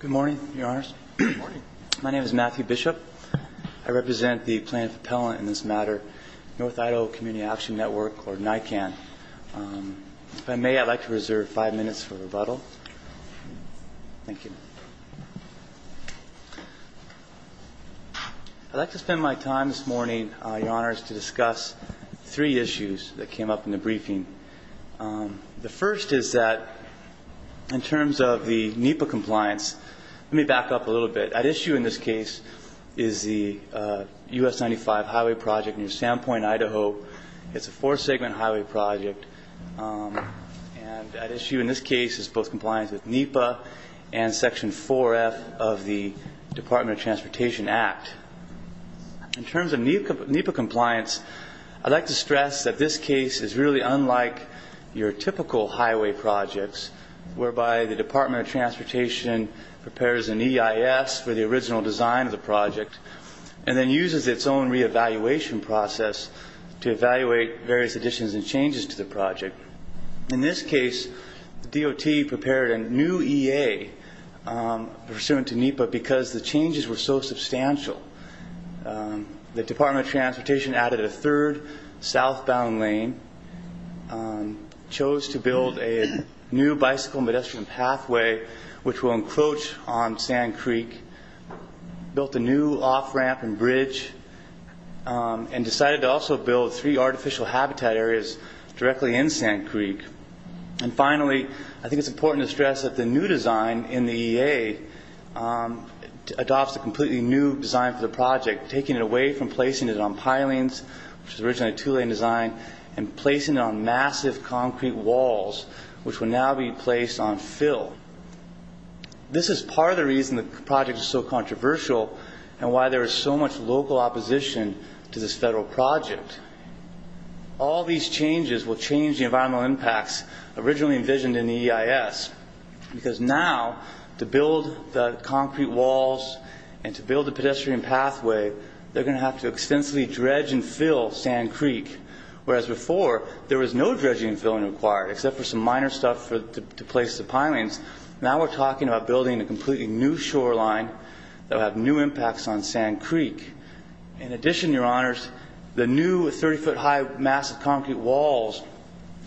Good morning, Your Honors. My name is Matthew Bishop. I represent the plaintiff appellant in this matter, North Idaho Community Action Network, or NICAN. If I may, I'd like to reserve five minutes for rebuttal. Thank you. I'd like to spend my time this morning, Your Honors, to discuss three issues that came up in the briefing. The first is that in terms of the NEPA compliance, let me back up a little bit. At issue in this case is the U.S. 95 highway project near Sandpoint, Idaho. It's a four-segment highway project. And at issue in this case is both compliance with NEPA and Section 106 of the Highway Protection Act. Section 4F of the Department of Transportation Act. In terms of NEPA compliance, I'd like to stress that this case is really unlike your typical highway projects, whereby the Department of Transportation prepares an EIS for the original design of the project and then uses its own reevaluation process to evaluate various additions and changes to the project. In this case, the DOT prepared a new EA pursuant to NEPA because the changes were so substantial. The Department of Transportation added a third southbound lane, chose to build a new bicycle and pedestrian pathway which will encroach on Sand Creek, built a new off-ramp and bridge, and decided to also build three artificial habitat areas directly in Sand Creek. And finally, I think it's important to stress that the new design in the EA adopts a completely new design for the project, taking it away from placing it on pilings, which was originally a two-lane design, and placing it on massive concrete walls, which will now be placed on fill. This is part of the reason the project is so controversial and why there is so much local opposition to this federal project. All these changes will change the environmental impacts originally envisioned in the EIS because now, to build the concrete walls and to build the pedestrian pathway, they're going to have to extensively dredge and fill Sand Creek, whereas before, there was no dredging and filling required, except for some minor stuff to place the pilings. Now we're talking about building a completely new shoreline that will have new impacts on Sand Creek. In addition, Your Honors, the new 30-foot-high massive concrete walls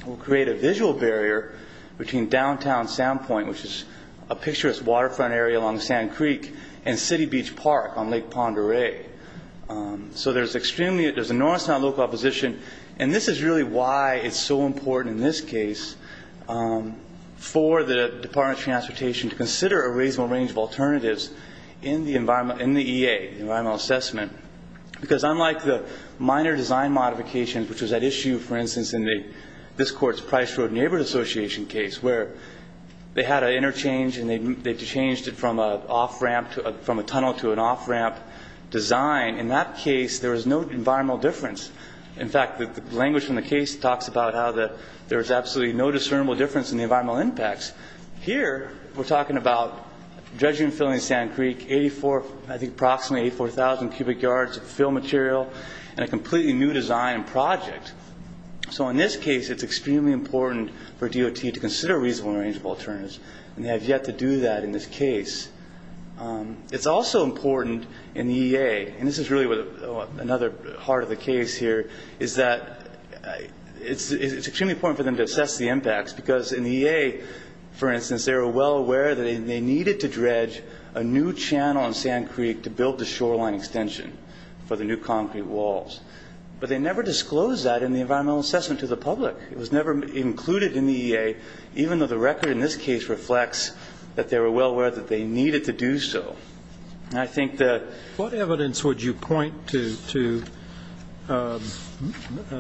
will create a visual barrier between downtown Sand Point, which is a picturesque waterfront area along Sand Creek, and City Beach Park on Lake Pend Oreille. So there's an enormous amount of local opposition, and this is really why it's so important in this case for the Department of Transportation to consider a reasonable range of alternatives in the EA, the environmental assessment, because unlike the minor design modification, which was at issue, for instance, in this court's Price Road Neighborhood Association case, where they had an interchange and they changed it from a tunnel to an off-ramp design, in that case, there was no environmental difference. In fact, the language from the case talks about how there was absolutely no discernible difference in the environmental impacts. Here, we're talking about dredging and filling Sand Creek, I think approximately 84,000 cubic yards of fill material, and a completely new design project. So in this case, it's extremely important for DOT to consider a reasonable range of alternatives, and they have yet to do that in this case. It's also important in the EA, and this is really another heart of the case here, is that it's extremely important for them to assess the impacts, because in the EA, for instance, they were well aware that they needed to dredge a new channel in Sand Creek to build the shoreline extension for the new concrete walls, but they never disclosed that in the environmental assessment to the public. It was never included in the EA, even though the record in this case reflects that they were well aware that they needed to do so. And I think that – What evidence would you point to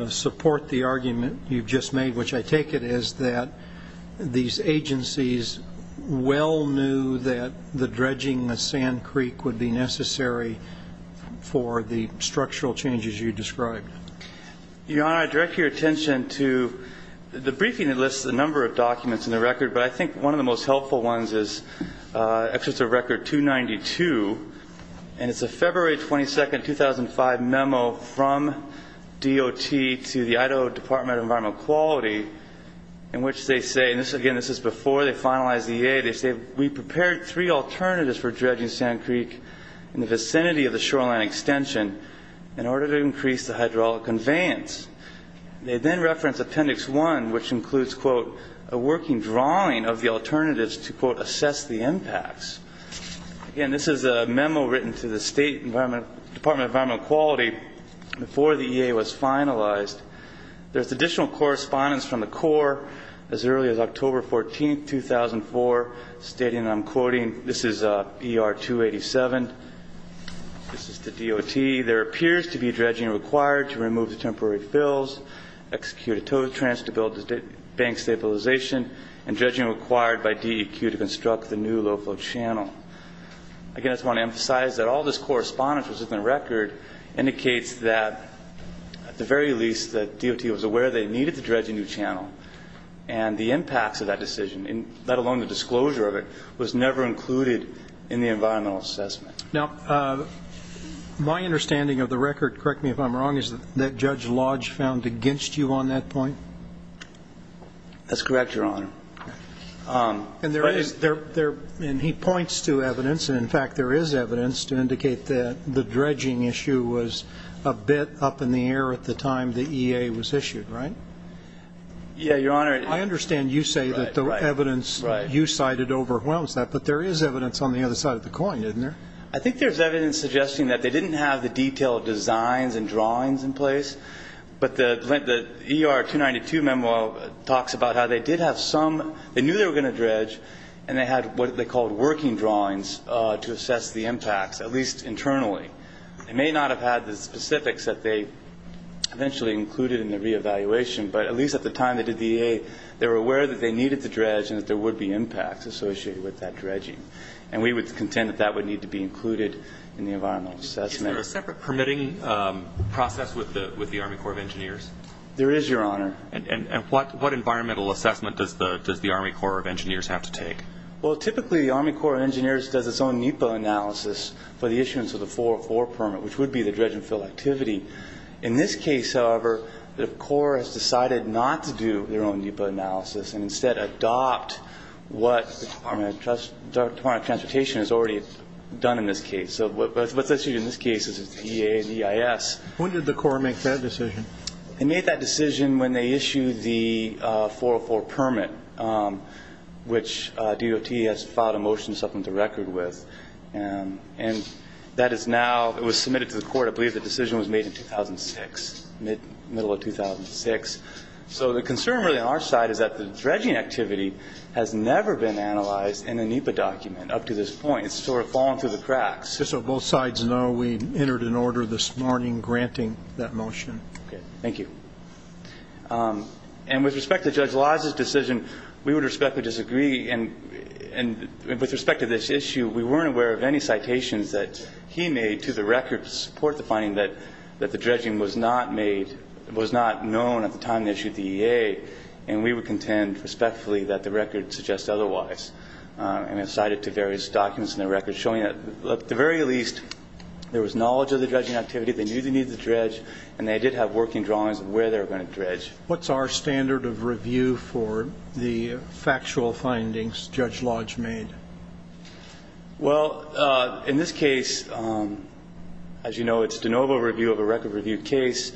support the argument you've just made, which I take it is that these agencies well knew that the dredging of Sand Creek would be necessary for the structural changes you described? Your Honor, I direct your attention to the briefing that lists a number of documents in the record, but I think one of the most helpful ones is Excerpt of Record 292, and it's a February 22, 2005 memo from DOT to the Idaho Department of Environmental Quality in which they say – and again, this is before they finalized the EA – they say, we prepared three alternatives for dredging Sand Creek in the vicinity of the shoreline extension in order to increase the hydraulic conveyance. They then reference Appendix 1, which includes, quote, a working drawing of the alternatives to, quote, assess the impacts. Again, this is a memo written to the State Department of Environmental Quality before the EA was finalized. There's additional correspondence from the Corps as early as October 14, 2004, stating – and I'm quoting – this is ER-287. This is to DOT. There appears to be dredging required to remove the temporary fills, execute a tow-trans to build bank stabilization, and dredging required by DEQ to construct the new low-flow channel. Again, I just want to emphasize that all this correspondence that was in the record indicates that, at the very least, that DOT was aware they needed to dredge a new channel, and the impacts of that decision, let alone the disclosure of it, was never included in the environmental assessment. Now, my understanding of the record – correct me if I'm wrong – is that Judge Lodge found against you on that point? That's correct, Your Honor. And there is – and he points to evidence, and, in fact, there is evidence to indicate that the dredging issue was a bit up in the air at the time the EA was issued, right? Yeah, Your Honor. I understand you say that the evidence you cited overwhelms that, but there is evidence on the other side of the coin, isn't there? I think there's evidence suggesting that they didn't have the detailed designs and drawings in place, but the ER 292 memo talks about how they did have some – they knew they were going to dredge, and they had what they called working drawings to assess the impacts, at least internally. They may not have had the specifics that they eventually included in the reevaluation, but at least at the time they did the EA, they were aware that they needed to dredge and that there would be impacts associated with that dredging, and we would contend that that would need to be included in the environmental assessment. Is there a separate permitting process with the Army Corps of Engineers? There is, Your Honor. And what environmental assessment does the Army Corps of Engineers have to take? Well, typically the Army Corps of Engineers does its own NEPA analysis for the issuance of the 404 permit, which would be the dredging field activity. In this case, however, the Corps has decided not to do their own NEPA analysis and instead adopt what the Department of Transportation has already done in this case. So what's issued in this case is the EA and EIS. When did the Corps make that decision? They made that decision when they issued the 404 permit, which DOT has filed a motion to supplement the record with. And that is now submitted to the court. I believe the decision was made in 2006, middle of 2006. So the concern really on our side is that the dredging activity has never been analyzed in a NEPA document up to this point. It's sort of fallen through the cracks. Just so both sides know, we entered an order this morning granting that motion. Okay. Thank you. And with respect to Judge Liza's decision, we would respectfully disagree. And with respect to this issue, we weren't aware of any citations that he made to the record to support the finding that the dredging was not known at the time they issued the EA, and we would contend respectfully that the record suggests otherwise. And I cited to various documents in the record showing that, at the very least, there was knowledge of the dredging activity, they knew they needed to dredge, and they did have working drawings of where they were going to dredge. What's our standard of review for the factual findings Judge Lodge made? Well, in this case, as you know, it's de novo review of a record review case.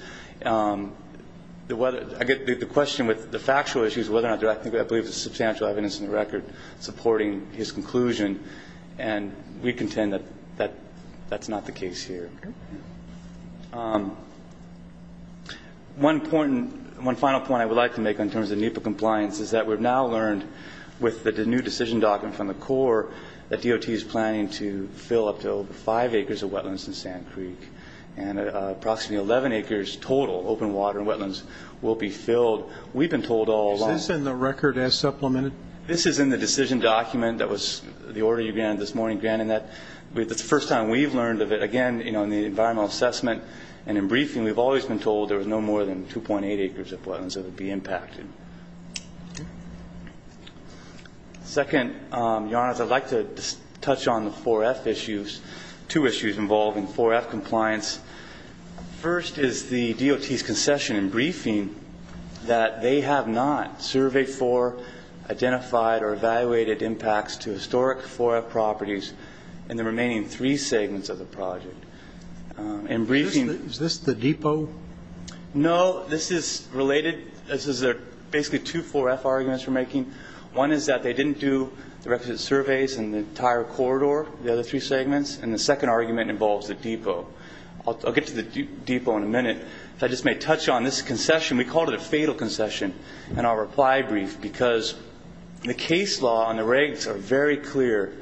I get the question with the factual issues, whether or not there I believe is substantial evidence in the record. We have no evidence in the record of the fact that Judge Lodge did not have any evidence to support his conclusion, and we contend that that's not the case here. One final point I would like to make in terms of NEPA compliance is that we have now learned with the new decision document from the Corps that DOT is planning to fill up to over 5 acres of wetlands in Sand Creek, and approximately 11 acres total, open water wetlands, will be filled. We've been told all along. Is this in the record as supplemented? This is in the decision document that was the order you granted this morning, granted that. It's the first time we've learned of it. Again, you know, in the environmental assessment and in briefing, we've always been told there was no more than 2.8 acres of wetlands that would be impacted. Second, Your Honors, I'd like to touch on the 4F issues, two issues involving 4F compliance. First is the DOT's concession in briefing that they have not surveyed for, identified, or evaluated impacts to historic 4F properties in the remaining three segments of the project. In briefing ---- Is this the depot? No. Well, this is related. This is basically two 4F arguments we're making. One is that they didn't do the requisite surveys in the entire corridor, the other three segments, and the second argument involves the depot. I'll get to the depot in a minute. If I just may touch on this concession, we called it a fatal concession in our reply brief because the case law and the regs are very clear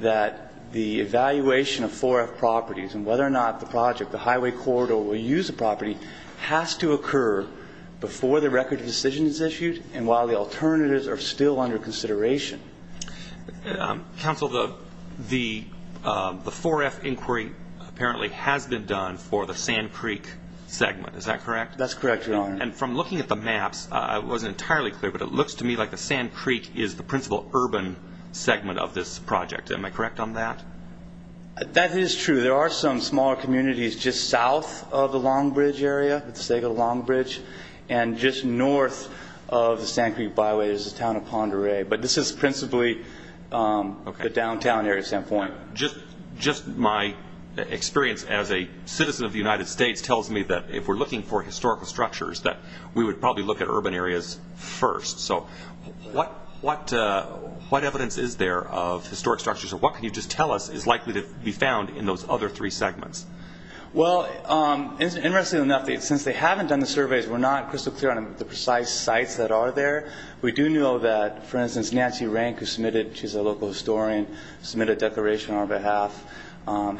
that the evaluation of 4F properties and whether or not the project, the highway corridor, will use the property has to occur before the record of decision is issued and while the alternatives are still under consideration. Counsel, the 4F inquiry apparently has been done for the Sand Creek segment. Is that correct? That's correct, Your Honor. And from looking at the maps, it wasn't entirely clear, but it looks to me like the Sand Creek is the principal urban segment of this project. Am I correct on that? That is true. There are some smaller communities just south of the Long Bridge area, at the stake of the Long Bridge, and just north of the Sand Creek byway is the town of Pend Oreille, but this is principally the downtown area standpoint. Just my experience as a citizen of the United States tells me that if we're looking for historical structures, that we would probably look at urban areas first. So what evidence is there of historic structures, or what can you just tell us is likely to be found in those other three segments? Well, interestingly enough, since they haven't done the surveys, we're not crystal clear on the precise sites that are there. We do know that, for instance, Nancy Rank, who's a local historian, submitted a declaration on our behalf,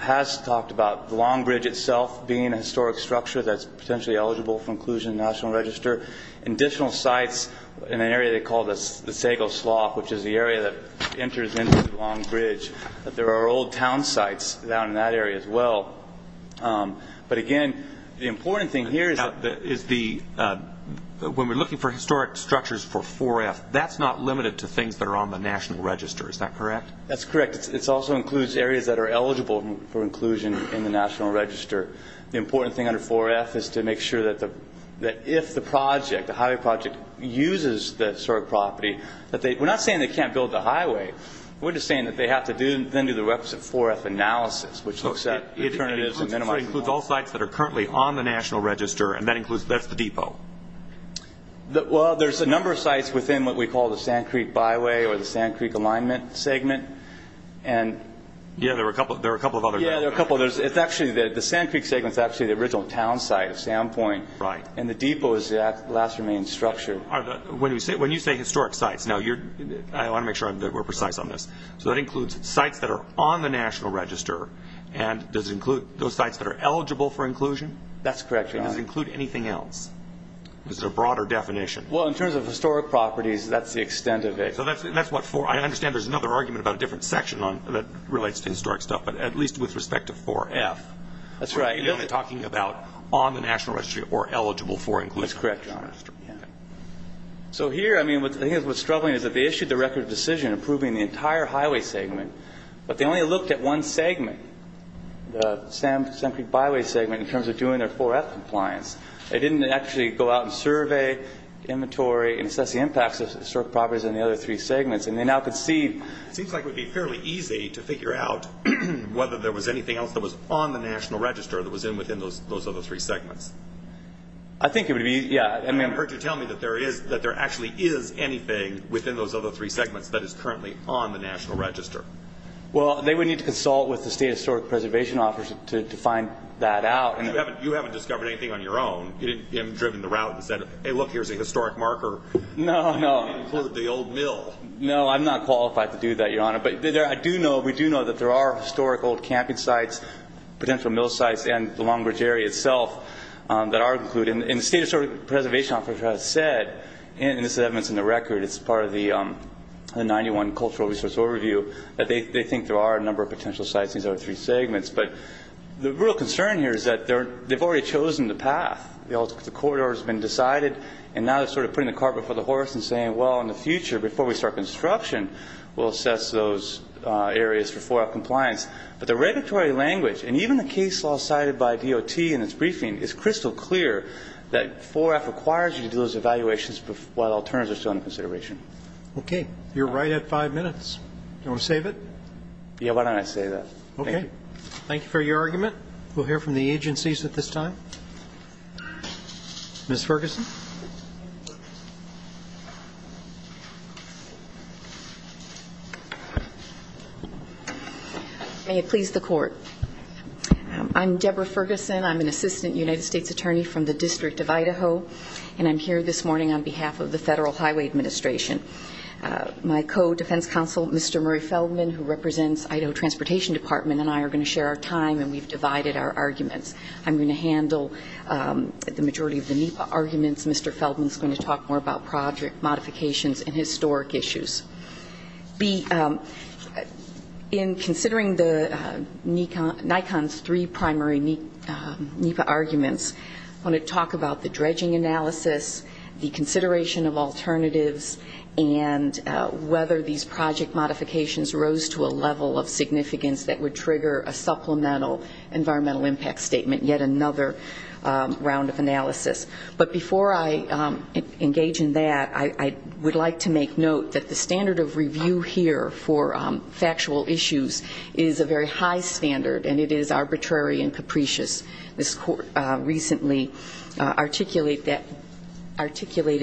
has talked about the Long Bridge itself being a historic structure that's potentially eligible for inclusion in the National Register. There are additional sites in an area they call the Sago Slough, which is the area that enters into the Long Bridge. There are old town sites down in that area as well. But again, the important thing here is that when we're looking for historic structures for 4F, that's not limited to things that are on the National Register. Is that correct? That's correct. It also includes areas that are eligible for inclusion in the National Register. The important thing under 4F is to make sure that if the highway project uses that sort of property, we're not saying they can't build the highway. We're just saying that they have to then do the requisite 4F analysis, which looks at alternatives and minimizing costs. It includes all sites that are currently on the National Register, and that's the depot. Well, there's a number of sites within what we call the Sand Creek Byway or the Sand Creek Alignment Segment. Yeah, there are a couple of others. The Sand Creek Segment is actually the original town site of Sand Point, and the depot is the last remaining structure. When you say historic sites, I want to make sure that we're precise on this, so that includes sites that are on the National Register, and does it include those sites that are eligible for inclusion? That's correct, Your Honor. Does it include anything else? Is there a broader definition? Well, in terms of historic properties, that's the extent of it. I understand there's another argument about a different section that relates to historic stuff, but at least with respect to 4F. That's right. You're talking about on the National Register or eligible for inclusion. That's correct, Your Honor. So here, I mean, I think what's struggling is that they issued the record of decision approving the entire highway segment, but they only looked at one segment, the Sand Creek Byway Segment, in terms of doing their 4F compliance. They didn't actually go out and survey, inventory, and assess the impacts of historic properties in the other three segments, and they now could see. It seems like it would be fairly easy to figure out whether there was anything else that was on the National Register that was in within those other three segments. I think it would be, yeah. I mean, I've heard you tell me that there actually is anything within those other three segments that is currently on the National Register. Well, they would need to consult with the State Historic Preservation Office to find that out. You haven't discovered anything on your own. You haven't driven the route and said, hey, look, here's a historic marker. No, no. You didn't include the old mill. No, I'm not qualified to do that, Your Honor. But we do know that there are historic old camping sites, potential mill sites, and the Long Bridge area itself that are included. And the State Historic Preservation Office has said, and this is evidence in the record, it's part of the 91 cultural resource overview, that they think there are a number of potential sites in these other three segments. But the real concern here is that they've already chosen the path. The corridor has been decided, and now they're sort of putting the cart before the horse and saying, well, in the future, before we start construction, we'll assess those areas for 4-F compliance. But the regulatory language, and even the case law cited by DOT in its briefing, is crystal clear that 4-F requires you to do those evaluations while alternatives are still under consideration. Okay. You're right at five minutes. Do you want to save it? Yeah, why don't I save that? Okay. Thank you for your argument. We'll hear from the agencies at this time. Ms. Ferguson. May it please the Court. I'm Deborah Ferguson. I'm an assistant United States attorney from the District of Idaho, and I'm here this morning on behalf of the Federal Highway Administration. My co-defense counsel, Mr. Murray Feldman, who represents Idaho Transportation Department and I are going to share our time, and we've divided our arguments. I'm going to handle the majority of the NEPA arguments. Mr. Feldman is going to talk more about project modifications and historic issues. In considering NICON's three primary NEPA arguments, I want to talk about the dredging analysis, the consideration of alternatives, and whether these project modifications rose to a level of significance that would trigger a supplemental environmental impact statement, yet another round of analysis. But before I engage in that, I would like to make note that the standard of review here for factual issues is a very high standard, and it is arbitrary and capricious. This Court recently articulated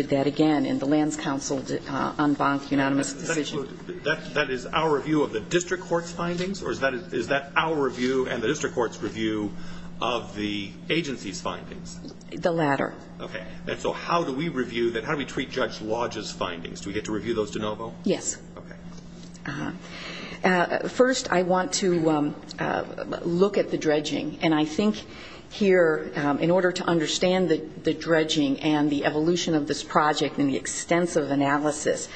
that again in the Lands Council's en banc unanimous decision. So that is our review of the district court's findings, or is that our review and the district court's review of the agency's findings? The latter. Okay. And so how do we review that? How do we treat Judge Lodge's findings? Do we get to review those de novo? Yes. Okay. First, I want to look at the dredging, and I think here in order to understand the dredging and the evolution of this project and the extensive analysis,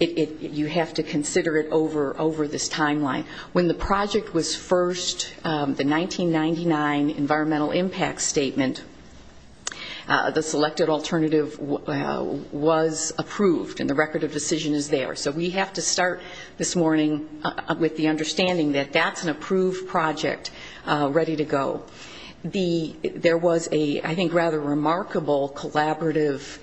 you have to consider it over this timeline. When the project was first, the 1999 environmental impact statement, the selected alternative was approved, and the record of decision is there. So we have to start this morning with the understanding that that's an approved project ready to go. There was a, I think, rather remarkable collaborative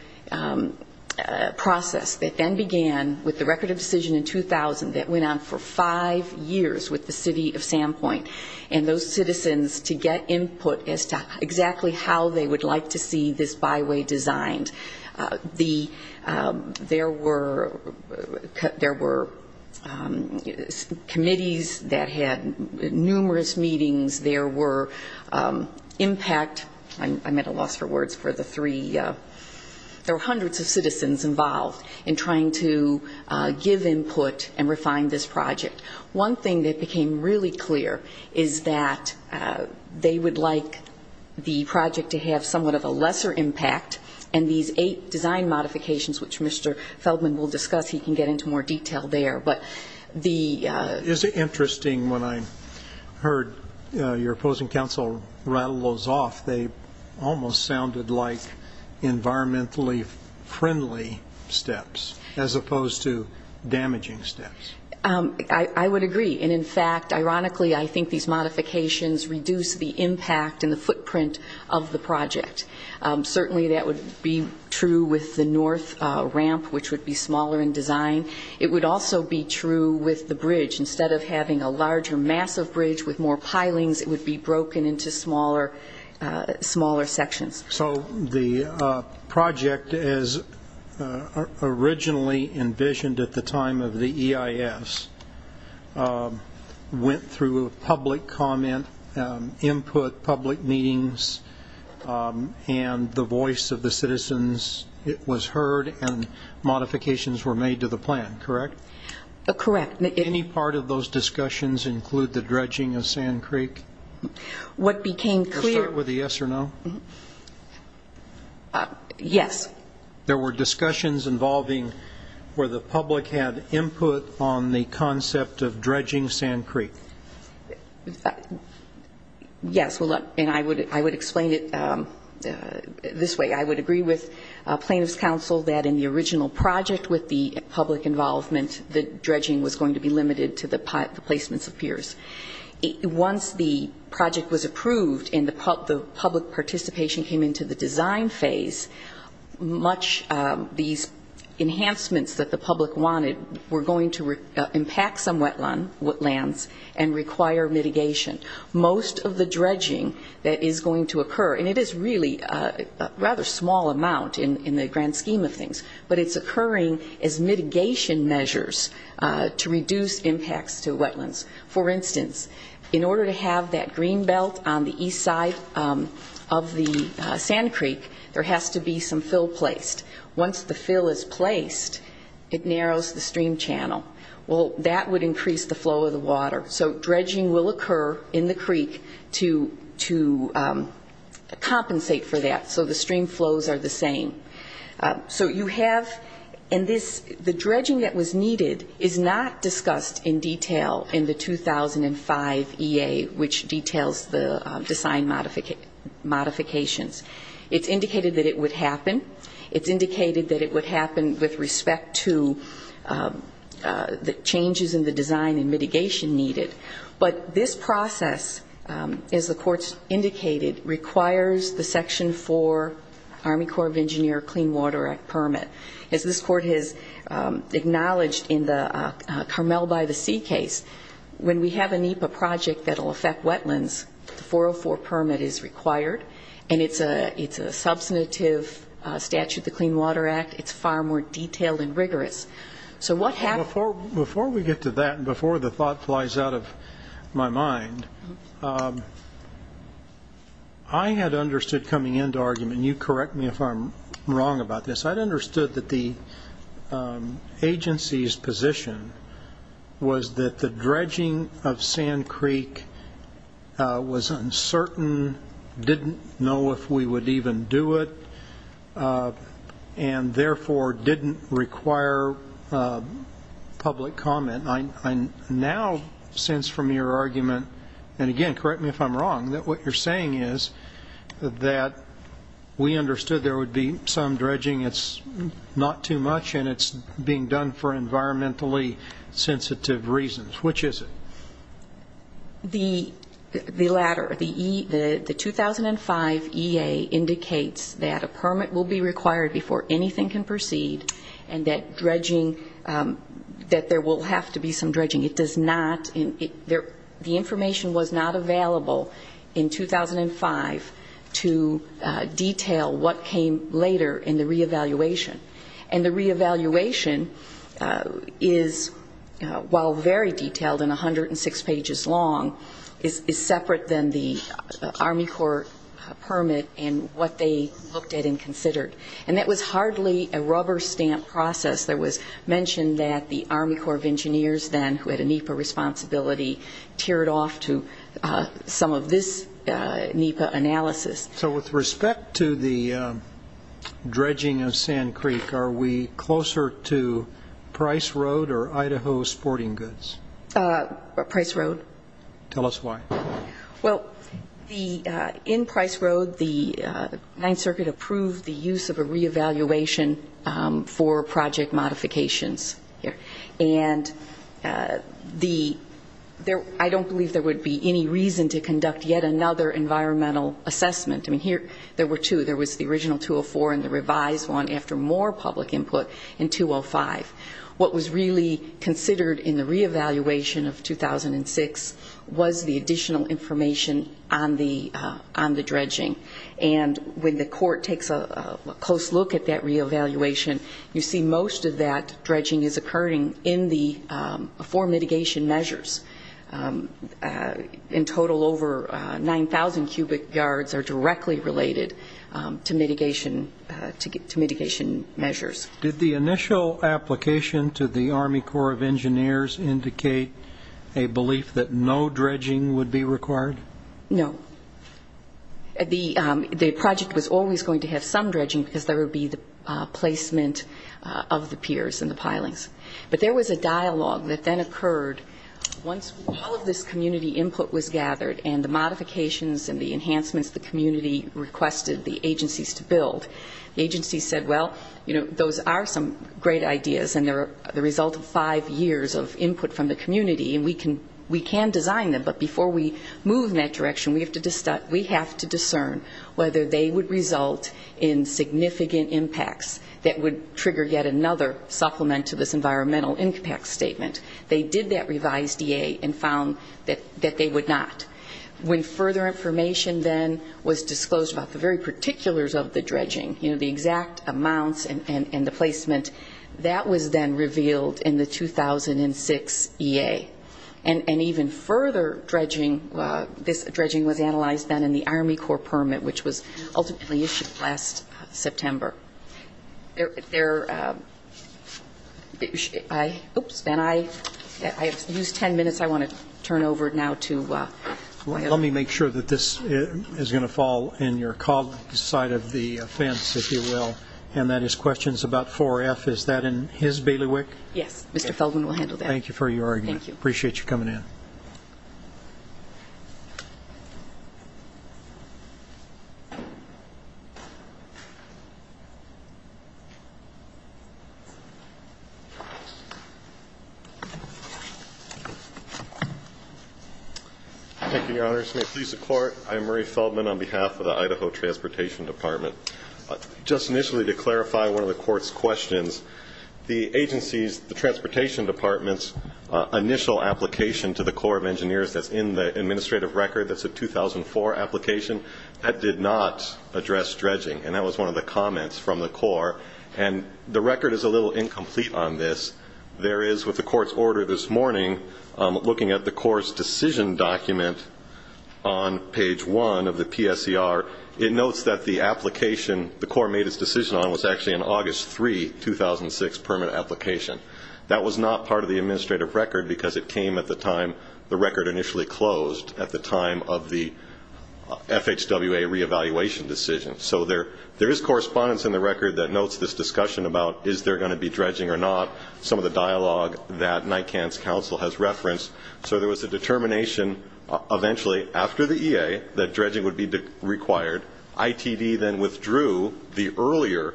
process that then began with the record of decision in 2000 that went on for five years with the city of Sandpoint and those citizens to get input as to exactly how they would like to see this byway designed. There were committees that had numerous meetings. There were impact. I'm at a loss for words for the three. There were hundreds of citizens involved in trying to give input and refine this project. One thing that became really clear is that they would like the project to have somewhat of a lesser impact, and these eight design modifications, which Mr. Feldman will discuss, he can get into more detail there. Is it interesting when I heard your opposing counsel rattle those off, they almost sounded like environmentally friendly steps as opposed to damaging steps? I would agree, and in fact, ironically, I think these modifications reduce the impact and the footprint of the project. Certainly that would be true with the north ramp, which would be smaller in design. It would also be true with the bridge. Instead of having a larger, massive bridge with more pilings, it would be broken into smaller sections. So the project, as originally envisioned at the time of the EIS, went through public comment, input, public meetings, and the voice of the citizens was heard, and modifications were made to the plan, correct? Correct. Any part of those discussions include the dredging of Sand Creek? What became clear- I'll start with a yes or no. Yes. There were discussions involving where the public had input on the concept of dredging Sand Creek. Yes, and I would explain it this way. I would agree with plaintiffs' counsel that in the original project with the public involvement, the dredging was going to be limited to the placements of piers. Once the project was approved and the public participation came into the design phase, these enhancements that the public wanted were going to impact some wetlands and require mitigation. Most of the dredging that is going to occur, and it is really a rather small amount in the grand scheme of things, but it's occurring as mitigation measures to reduce impacts to wetlands. For instance, in order to have that green belt on the east side of the Sand Creek, there has to be some fill placed. Once the fill is placed, it narrows the stream channel. Well, that would increase the flow of the water. So dredging will occur in the creek to compensate for that so the stream flows are the same. So you have in this, the dredging that was needed is not discussed in detail in the 2005 EA, which details the design modifications. It's indicated that it would happen. It's indicated that it would happen with respect to the changes in the design and mitigation needed. But this process, as the Court's indicated, requires the Section 4 Army Corps of Engineers Clean Water Act permit. As this Court has acknowledged in the Carmel-by-the-Sea case, when we have a NEPA project that will affect wetlands, the 404 permit is required, and it's a substantive statute, the Clean Water Act. It's far more detailed and rigorous. So what happened? Before we get to that and before the thought flies out of my mind, I had understood coming into argument, and you correct me if I'm wrong about this, I had understood that the agency's position was that the dredging of Sand Creek was uncertain, didn't know if we would even do it, and therefore didn't require public comment. I now sense from your argument, and again, correct me if I'm wrong, that what you're saying is that we understood there would be some dredging, it's not too much, and it's being done for environmentally sensitive reasons. Which is it? The latter. The 2005 EA indicates that a permit will be required before anything can proceed, and that dredging, that there will have to be some dredging. The information was not available in 2005 to detail what came later in the reevaluation. And the reevaluation is, while very detailed and 106 pages long, is separate than the Army Corps permit and what they looked at and considered. And that was hardly a rubber stamp process. There was mention that the Army Corps of Engineers then, who had a NEPA responsibility, teared off to some of this NEPA analysis. So with respect to the dredging of Sand Creek, are we closer to Price Road or Idaho Sporting Goods? Price Road. Tell us why. Well, in Price Road, the Ninth Circuit approved the use of a reevaluation for project modifications. And I don't believe there would be any reason to conduct yet another environmental assessment. I mean, there were two. There was the original 204 and the revised one after more public input in 205. What was really considered in the reevaluation of 2006 was the additional information on the dredging. And when the court takes a close look at that reevaluation, you see most of that dredging is occurring in the four mitigation measures. In total, over 9,000 cubic yards are directly related to mitigation measures. Did the initial application to the Army Corps of Engineers indicate a belief that no dredging would be required? No. The project was always going to have some dredging because there would be the placement of the piers and the pilings. But there was a dialogue that then occurred once all of this community input was gathered and the modifications and the enhancements the community requested the agencies to build. The agencies said, well, you know, those are some great ideas, and they're the result of five years of input from the community, and we can design them. But before we move in that direction, we have to discern whether they would result in significant impacts that would trigger yet another supplement to this environmental impact statement. They did that revised EA and found that they would not. When further information then was disclosed about the very particulars of the dredging, you know, the exact amounts and the placement, that was then revealed in the 2006 EA. And even further dredging, this dredging was analyzed then in the Army Corps permit, which was ultimately issued last September. There are 10 minutes I want to turn over now. Let me make sure that this is going to fall in your call side of the fence, if you will, and that is questions about 4F. Is that in his bailiwick? Yes. Mr. Felden will handle that. Thank you for your argument. Thank you. Appreciate you coming in. Thank you, Your Honors. May it please the Court, I am Murray Feldman on behalf of the Idaho Transportation Department. Just initially to clarify one of the Court's questions, the agencies, the Transportation Department's initial application to the Corps of Engineers that's in the administrative record, that's a 2004 application, that did not address dredging. And that was one of the comments from the Corps. And the record is a little incomplete on this. There is, with the Court's order this morning, looking at the Corps' decision document on page 1 of the PSER, it notes that the application the Corps made its decision on was actually an August 3, 2006, permanent application. That was not part of the administrative record because it came at the time the record initially closed, at the time of the FHWA reevaluation decision. So there is correspondence in the record that notes this discussion about is there going to be dredging or not, some of the dialogue that NICAN's counsel has referenced. So there was a determination eventually after the EA that dredging would be required. ITD then withdrew the earlier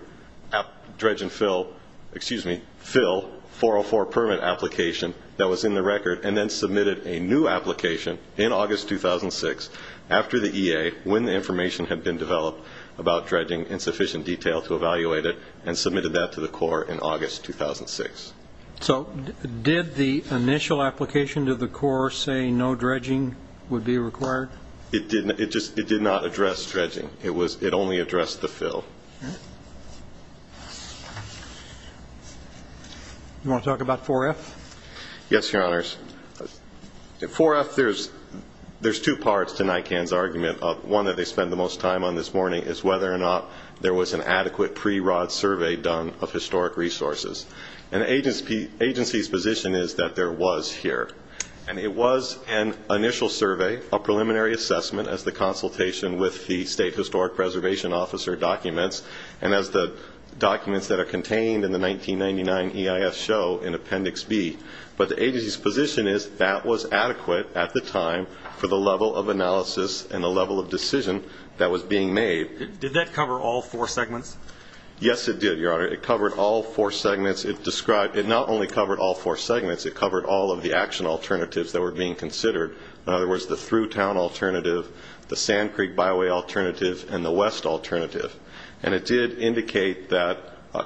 dredge and fill, excuse me, fill, 404 permit application that was in the record, and then submitted a new application in August 2006 after the EA, when the information had been developed about dredging in sufficient detail to evaluate it, and submitted that to the Corps in August 2006. So did the initial application to the Corps say no dredging would be required? It did not address dredging. It only addressed the fill. Do you want to talk about 4F? Yes, Your Honors. 4F, there's two parts to NICAN's argument. One that they spent the most time on this morning is whether or not there was an adequate pre-rod survey done of historic resources. And the agency's position is that there was here. And it was an initial survey, a preliminary assessment, as the consultation with the State Historic Preservation Officer documents, and as the documents that are contained in the 1999 EIS show in Appendix B. But the agency's position is that was adequate at the time for the level of analysis and the level of decision that was being made. Did that cover all four segments? Yes, it did, Your Honor. It covered all four segments. It not only covered all four segments. It covered all of the action alternatives that were being considered. In other words, the ThruTown alternative, the Sand Creek Byway alternative, and the West alternative. And it did indicate that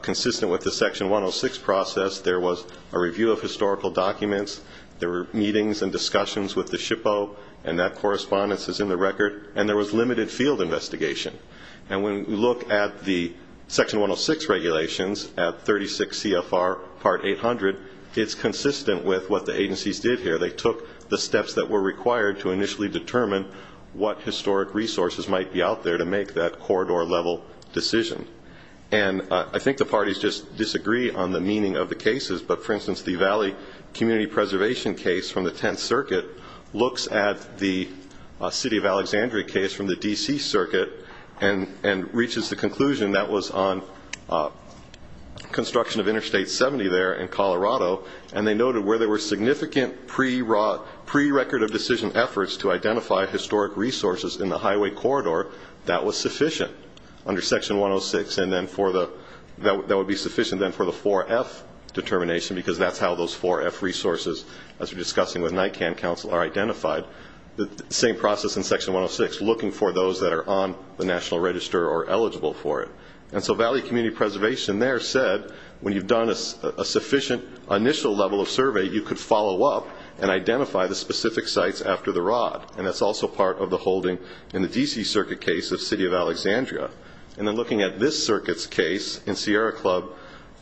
consistent with the Section 106 process, there was a review of historical documents. There were meetings and discussions with the SHPO, and that correspondence is in the record. And there was limited field investigation. And when we look at the Section 106 regulations at 36 CFR Part 800, it's consistent with what the agencies did here. They took the steps that were required to initially determine what historic resources might be out there to make that corridor-level decision. And I think the parties just disagree on the meaning of the cases. But, for instance, the Valley Community Preservation case from the Tenth Circuit looks at the City of Alexandria case from the D.C. Circuit and reaches the conclusion that was on construction of Interstate 70 there in Colorado, and they noted where there were significant prerecord of decision efforts to identify historic resources in the highway corridor, that was sufficient under Section 106, and that would be sufficient then for the 4F determination because that's how those 4F resources, as we're discussing with NICAN Council, are identified. The same process in Section 106, looking for those that are on the National Register or eligible for it. And so Valley Community Preservation there said when you've done a sufficient initial level of survey, you could follow up and identify the specific sites after the rod, and that's also part of the holding in the D.C. Circuit case of City of Alexandria. And then looking at this circuit's case in Sierra Club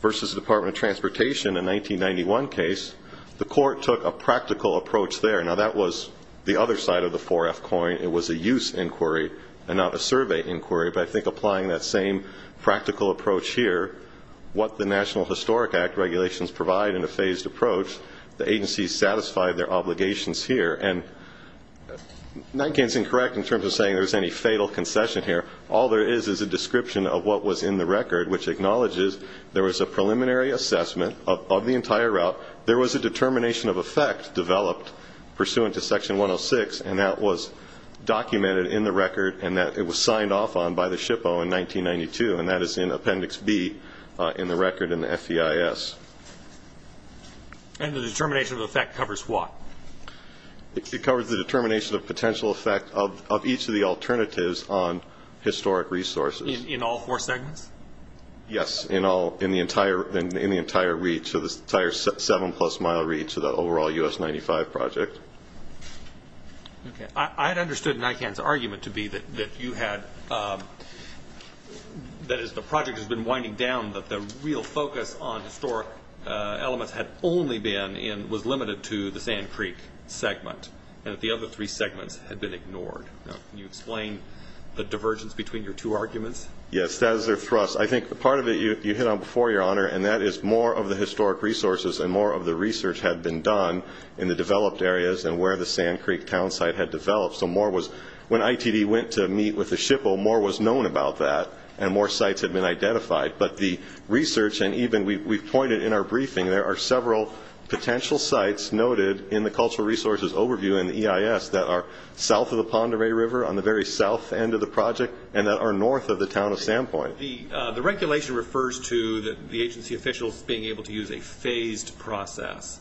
versus Department of Transportation in 1991 case, the court took a practical approach there. Now, that was the other side of the 4F coin. It was a use inquiry and not a survey inquiry, but I think applying that same practical approach here, what the National Historic Act regulations provide in a phased approach, the agencies satisfied their obligations here. And NICAN is incorrect in terms of saying there was any fatal concession here. All there is is a description of what was in the record, which acknowledges there was a preliminary assessment of the entire route. There was a determination of effect developed pursuant to Section 106, and that was documented in the record and that it was signed off on by the SHPO in 1992, and that is in Appendix B in the record in the FEIS. And the determination of effect covers what? It covers the determination of potential effect of each of the alternatives on historic resources. In all four segments? Yes, in the entire reach, the entire 7-plus-mile reach of the overall U.S. 95 project. Okay. I had understood NICAN's argument to be that you had, that is, the project has been winding down, that the real focus on historic elements had only been and was limited to the Sand Creek segment and that the other three segments had been ignored. Can you explain the divergence between your two arguments? Yes, that is their thrust. I think part of it you hit on before, Your Honor, and that is more of the historic resources and more of the research had been done in the developed areas and where the Sand Creek town site had developed. So more was, when ITD went to meet with the SHPO, more was known about that and more sites had been identified. But the research, and even we've pointed in our briefing, there are several potential sites noted in the cultural resources overview in the EIS that are south of the Pend Oreille River on the very south end of the project and that are north of the town of Sand Point. The regulation refers to the agency officials being able to use a phased process.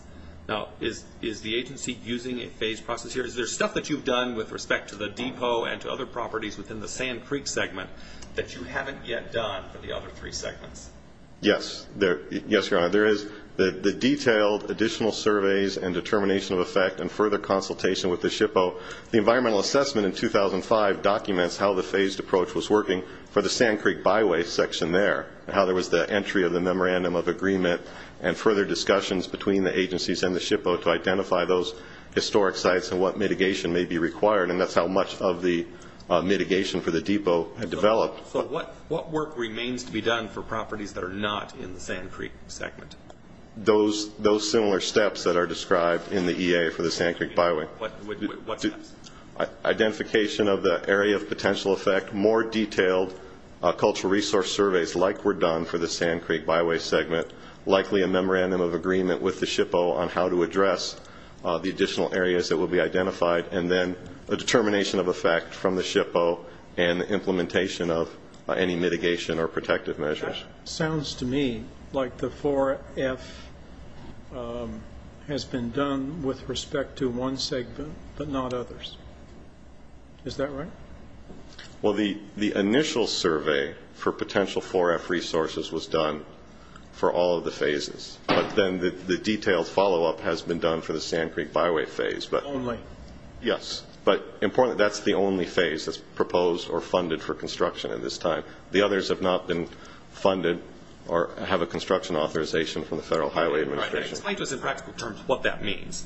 Now, is the agency using a phased process here? Is there stuff that you've done with respect to the depot and to other properties within the Sand Creek segment that you haven't yet done for the other three segments? Yes, Your Honor. There is the detailed additional surveys and determination of effect and further consultation with the SHPO. The environmental assessment in 2005 documents how the phased approach was working for the Sand Creek byway section there and how there was the entry of the memorandum of agreement and further discussions between the agencies and the SHPO to identify those historic sites and what mitigation may be required, and that's how much of the mitigation for the depot had developed. So what work remains to be done for properties that are not in the Sand Creek segment? Those similar steps that are described in the EA for the Sand Creek byway. What steps? Identification of the area of potential effect, more detailed cultural resource surveys like were done for the Sand Creek byway segment, likely a memorandum of agreement with the SHPO on how to address the additional areas that will be identified, and then a determination of effect from the SHPO and implementation of any mitigation or protective measures. It sounds to me like the 4F has been done with respect to one segment but not others. Is that right? Well, the initial survey for potential 4F resources was done for all of the phases, but then the detailed follow-up has been done for the Sand Creek byway phase. Only? Yes. But importantly, that's the only phase that's proposed or funded for construction at this time. The others have not been funded or have a construction authorization from the Federal Highway Administration. Explain to us in practical terms what that means.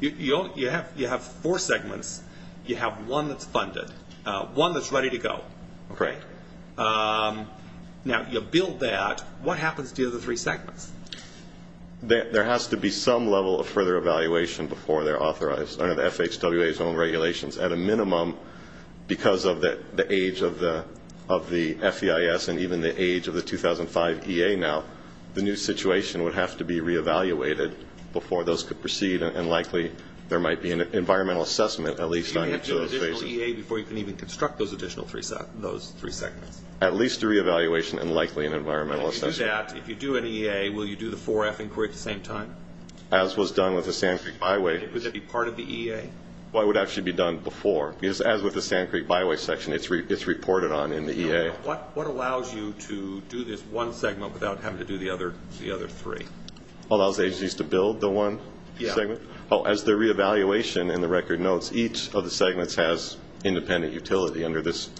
You have four segments. You have one that's funded, one that's ready to go. Okay. Now, you build that. What happens to the other three segments? There has to be some level of further evaluation before they're authorized under the FHWA's own regulations, at a minimum because of the age of the FEIS and even the age of the 2005 EA now. The new situation would have to be re-evaluated before those could proceed, and likely there might be an environmental assessment at least on each of those phases. Do you have to do an additional EA before you can even construct those additional three segments? At least a re-evaluation and likely an environmental assessment. If you do that, if you do an EA, will you do the 4F inquiry at the same time? As was done with the Sand Creek byway. Would that be part of the EA? Well, it would actually be done before. As with the Sand Creek byway section, it's reported on in the EA. What allows you to do this one segment without having to do the other three? Allows agencies to build the one segment? Yeah. Oh, as the re-evaluation in the record notes, each of the segments has independent utility under this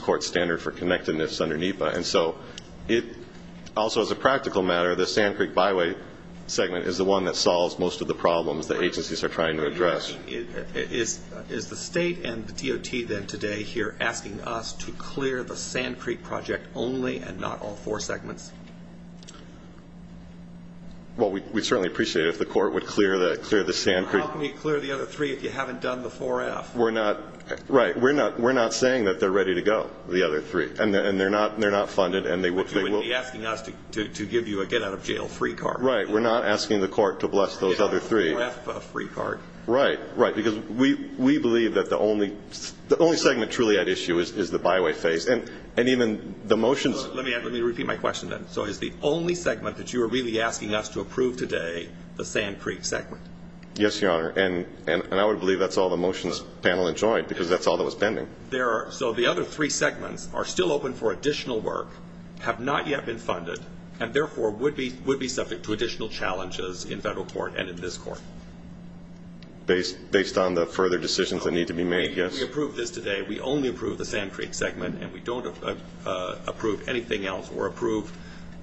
court standard for connectedness under NEPA. And so it also, as a practical matter, the Sand Creek byway segment is the one that solves most of the problems that agencies are trying to address. Is the state and the DOT then today here asking us to clear the Sand Creek project only and not all four segments? Well, we'd certainly appreciate it if the court would clear the Sand Creek. How can you clear the other three if you haven't done the 4F? Right. We're not saying that they're ready to go, the other three, and they're not funded. But you would be asking us to give you a get-out-of-jail-free card. Right. We're not asking the court to bless those other three. A 4F free card. Right, right, because we believe that the only segment truly at issue is the byway phase. And even the motions. Let me repeat my question then. So is the only segment that you are really asking us to approve today the Sand Creek segment? Yes, Your Honor. And I would believe that's all the motions panel enjoyed because that's all that was pending. So the other three segments are still open for additional work, have not yet been funded, and therefore would be subject to additional challenges in federal court and in this court. Based on the further decisions that need to be made, yes. We approved this today. We only approved the Sand Creek segment, and we don't approve anything else or approve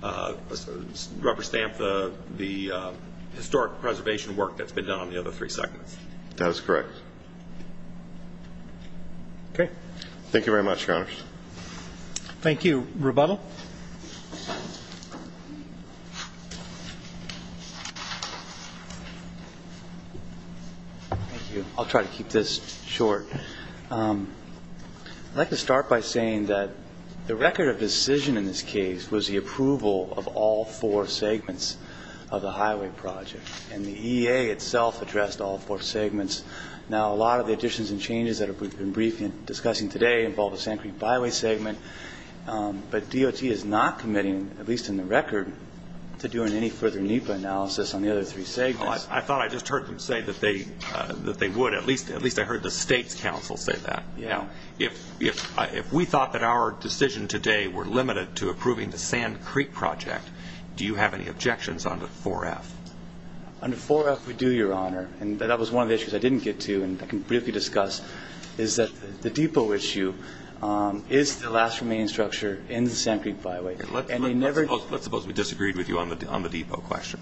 rubber stamp the historic preservation work that's been done on the other three segments. That is correct. Okay. Thank you very much, Your Honor. Thank you. Rebuttal. Thank you. I'll try to keep this short. I'd like to start by saying that the record of decision in this case was the approval of all four segments of the highway project. And the EA itself addressed all four segments. Now, a lot of the additions and changes that we've been discussing today involve the Sand Creek byway segment. But DOT is not committing, at least in the record, to doing any further NEPA analysis on the other three segments. I thought I just heard them say that they would. At least I heard the state's counsel say that. Yeah. If we thought that our decision today were limited to approving the Sand Creek project, do you have any objections on the 4F? On the 4F, we do, Your Honor. And that was one of the issues I didn't get to, and I can briefly discuss, is that the depot issue is the last remaining structure in the Sand Creek byway. Let's suppose we disagreed with you on the depot question.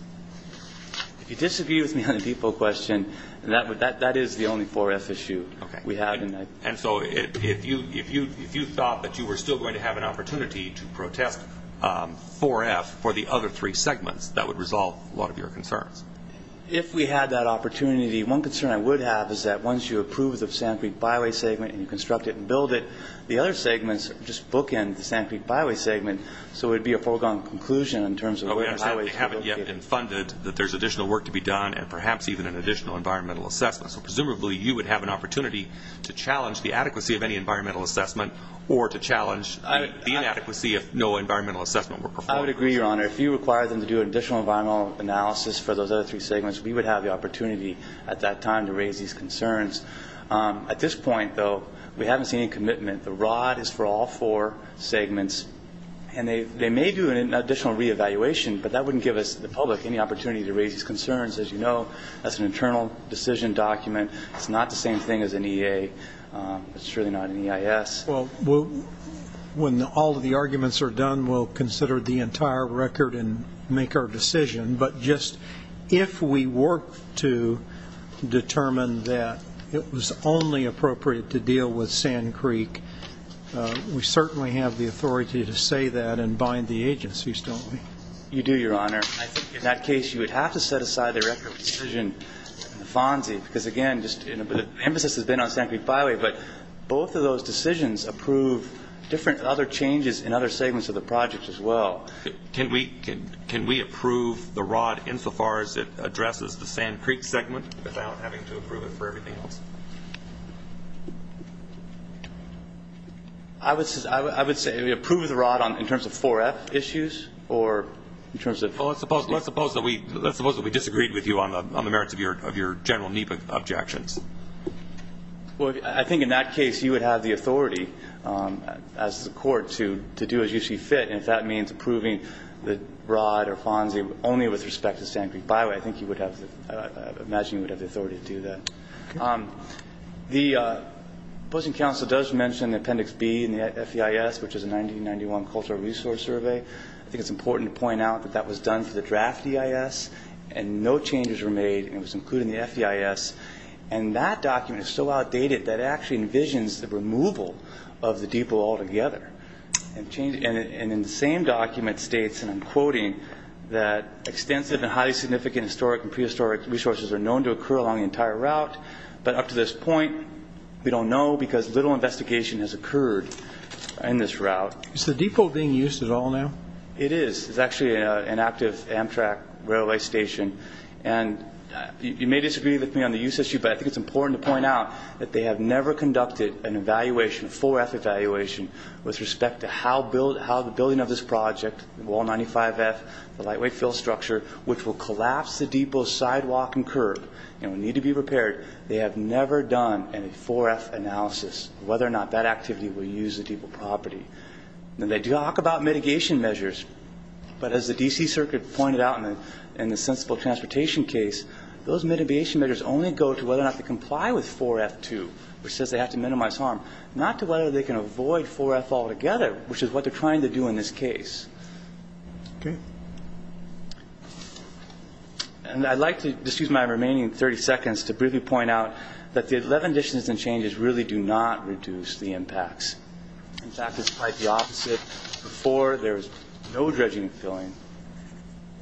If you disagree with me on the depot question, that is the only 4F issue we have. Okay. And so if you thought that you were still going to have an opportunity to protest 4F for the other three segments, that would resolve a lot of your concerns. If we had that opportunity, one concern I would have is that once you approve the Sand Creek byway segment and you construct it and build it, the other segments just bookend the Sand Creek byway segment, so it would be a foregone conclusion in terms of where the byways would be located. We understand they haven't yet been funded, that there's additional work to be done, and perhaps even an additional environmental assessment. So presumably you would have an opportunity to challenge the adequacy of any environmental assessment or to challenge the inadequacy if no environmental assessment were performed. I would agree, Your Honor. If you require them to do an additional environmental analysis for those other three segments, we would have the opportunity at that time to raise these concerns. At this point, though, we haven't seen any commitment. The ROD is for all four segments, and they may do an additional reevaluation, but that wouldn't give us, the public, any opportunity to raise these concerns. As you know, that's an internal decision document. It's not the same thing as an EA. It's really not an EIS. Well, when all of the arguments are done, we'll consider the entire record and make our decision. But just if we work to determine that it was only appropriate to deal with Sand Creek, we certainly have the authority to say that and bind the agencies, don't we? You do, Your Honor. I think in that case you would have to set aside the record decision, the FONSI, because, again, the emphasis has been on Sand Creek byway, but both of those decisions approve different other changes in other segments of the project as well. Can we approve the ROD insofar as it addresses the Sand Creek segment without having to approve it for everything else? I would say we approve the ROD in terms of 4F issues or in terms of- Well, let's suppose that we disagreed with you on the merits of your general NEPA objections. Well, I think in that case you would have the authority as the court to do as you see fit, and if that means approving the ROD or FONSI only with respect to Sand Creek byway, I imagine you would have the authority to do that. The opposing counsel does mention Appendix B in the FEIS, which is a 1991 cultural resource survey. I think it's important to point out that that was done for the draft EIS, and no changes were made, and it was included in the FEIS, and that document is so outdated that it actually envisions the removal of the depot altogether. And in the same document states, and I'm quoting, that extensive and highly significant historic and prehistoric resources are known to occur along the entire route, but up to this point we don't know because little investigation has occurred in this route. Is the depot being used at all now? It is. It's actually an active Amtrak railway station. And you may disagree with me on the use issue, but I think it's important to point out that they have never conducted an evaluation, a 4F evaluation, with respect to how the building of this project, Wall 95F, the lightweight fill structure, which will collapse the depot's sidewalk and curb and will need to be repaired, they have never done a 4F analysis of whether or not that activity will use the depot property. And they do talk about mitigation measures, but as the D.C. Circuit pointed out in the sensible transportation case, those mitigation measures only go to whether or not they comply with 4F-2, which says they have to minimize harm, not to whether they can avoid 4F altogether, which is what they're trying to do in this case. Okay. And I'd like to just use my remaining 30 seconds to briefly point out that the 11 additions and changes really do not reduce the impacts. In fact, it's quite the opposite. Before, there was no dredging and filling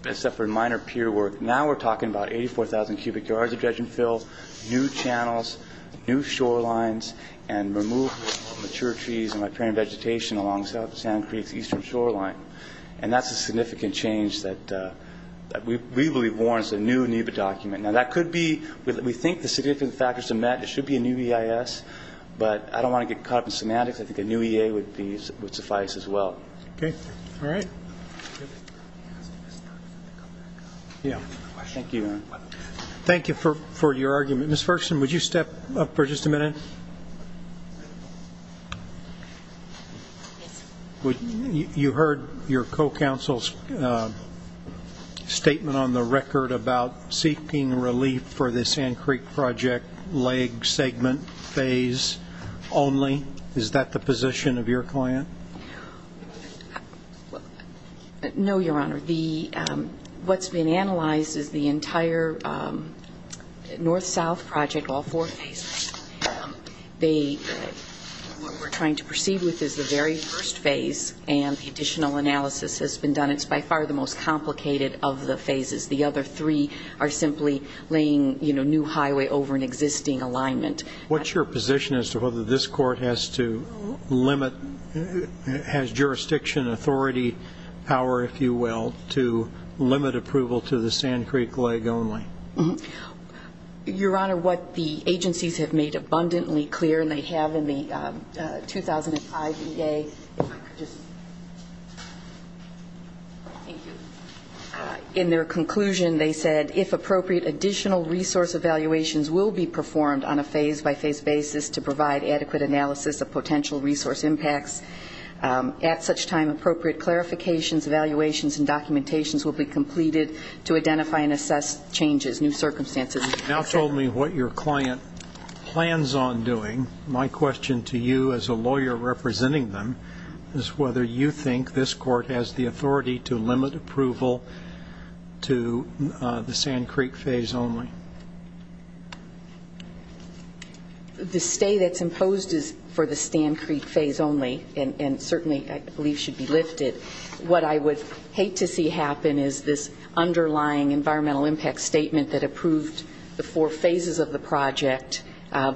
except for minor pier work. Now we're talking about 84,000 cubic yards of dredging fill, new channels, new shorelines, and removal of mature trees and riparian vegetation along Sand Creek's eastern shoreline. And that's a significant change that we believe warrants a new NEBA document. Now, that could be we think the significant factors are met. It should be a new EIS, but I don't want to get caught up in semantics. I think a new EA would suffice as well. Okay. All right. Thank you for your argument. Ms. Ferguson, would you step up for just a minute? Yes, sir. You heard your co-counsel's statement on the record about seeking relief for the Sand Creek project leg segment phase only. Is that the position of your client? No, Your Honor. What's been analyzed is the entire north-south project, all four phases. What we're trying to proceed with is the very first phase, and the additional analysis has been done. It's by far the most complicated of the phases. The other three are simply laying new highway over an existing alignment. What's your position as to whether this court has to limit, has jurisdiction authority power, if you will, to limit approval to the Sand Creek leg only? Your Honor, what the agencies have made abundantly clear, and they have in the 2005 EA, if I could just. Thank you. In their conclusion, they said, if appropriate additional resource evaluations will be performed on a phase-by-phase basis to provide adequate analysis of potential resource impacts, at such time appropriate clarifications, evaluations, and documentations will be completed to identify and assess changes, new circumstances. You've now told me what your client plans on doing. My question to you, as a lawyer representing them, is whether you think this court has the authority to limit approval to the Sand Creek phase only. The stay that's imposed is for the Sand Creek phase only, and certainly I believe should be lifted. What I would hate to see happen is this underlying environmental impact statement that approved the four phases of the project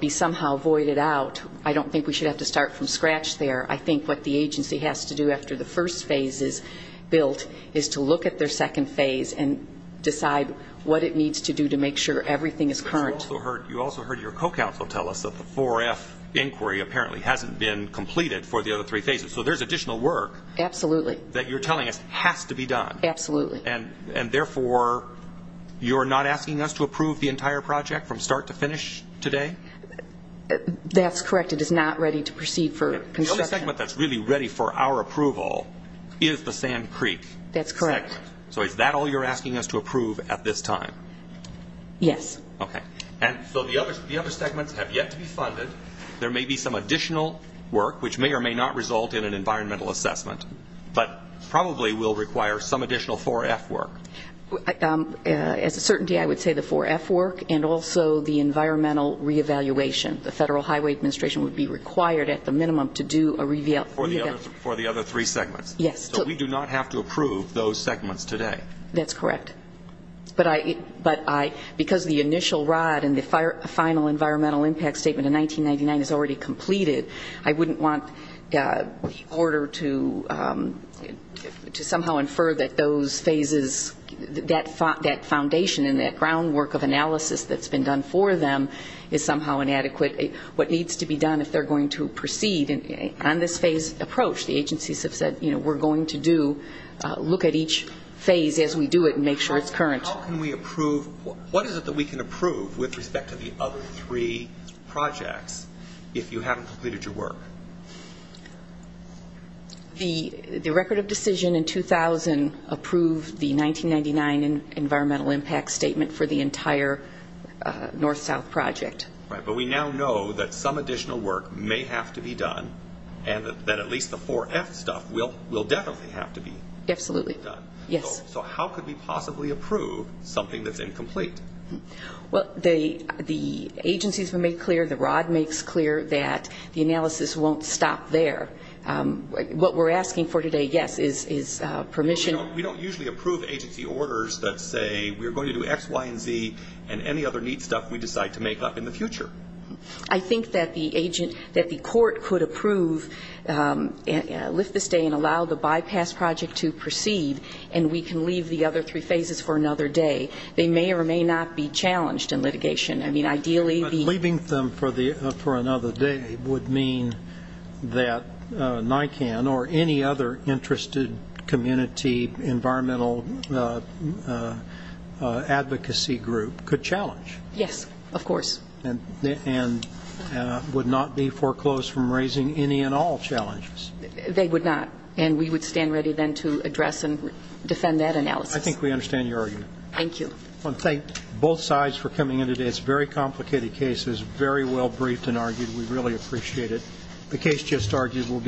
be somehow voided out. I don't think we should have to start from scratch there. I think what the agency has to do after the first phase is built is to look at their second phase and decide what it needs to do to make sure everything is current. You also heard your co-counsel tell us that the 4F inquiry apparently hasn't been completed for the other three phases, so there's additional work. Absolutely. That you're telling us has to be done. Absolutely. And therefore, you're not asking us to approve the entire project from start to finish today? That's correct. It is not ready to proceed for construction. The only segment that's really ready for our approval is the Sand Creek segment. That's correct. So is that all you're asking us to approve at this time? Yes. Okay. And so the other segments have yet to be funded. There may be some additional work, which may or may not result in an environmental assessment, but probably will require some additional 4F work. As a certainty, I would say the 4F work and also the environmental re-evaluation. The Federal Highway Administration would be required at the minimum to do a re-evaluation. For the other three segments? Yes. So we do not have to approve those segments today? That's correct. But because the initial rod and the final environmental impact statement in 1999 is already completed, I wouldn't want the order to somehow infer that those phases, that foundation and that groundwork of analysis that's been done for them is somehow inadequate. What needs to be done if they're going to proceed on this phase approach, the agencies have said, you know, we're going to look at each phase as we do it and make sure it's current. How can we approve? What is it that we can approve with respect to the other three projects if you haven't completed your work? The record of decision in 2000 approved the 1999 environmental impact statement for the entire north-south project. Right, but we now know that some additional work may have to be done and that at least the 4F stuff will definitely have to be done. Absolutely, yes. So how could we possibly approve something that's incomplete? Well, the agency has been made clear, the rod makes clear that the analysis won't stop there. What we're asking for today, yes, is permission. We don't usually approve agency orders that say we're going to do X, Y, and Z and any other neat stuff we decide to make up in the future. I think that the agent, that the court could approve, lift the stay and allow the bypass project to proceed and we can leave the other three phases for another day. They may or may not be challenged in litigation. I mean, ideally the But leaving them for another day would mean that NICAN or any other interested community environmental advocacy group could challenge. Yes, of course. And would not be foreclosed from raising any and all challenges. They would not. And we would stand ready then to address and defend that analysis. I think we understand your argument. Thank you. I want to thank both sides for coming in today. It's a very complicated case. It was very well briefed and argued. We really appreciate it. The case just argued will be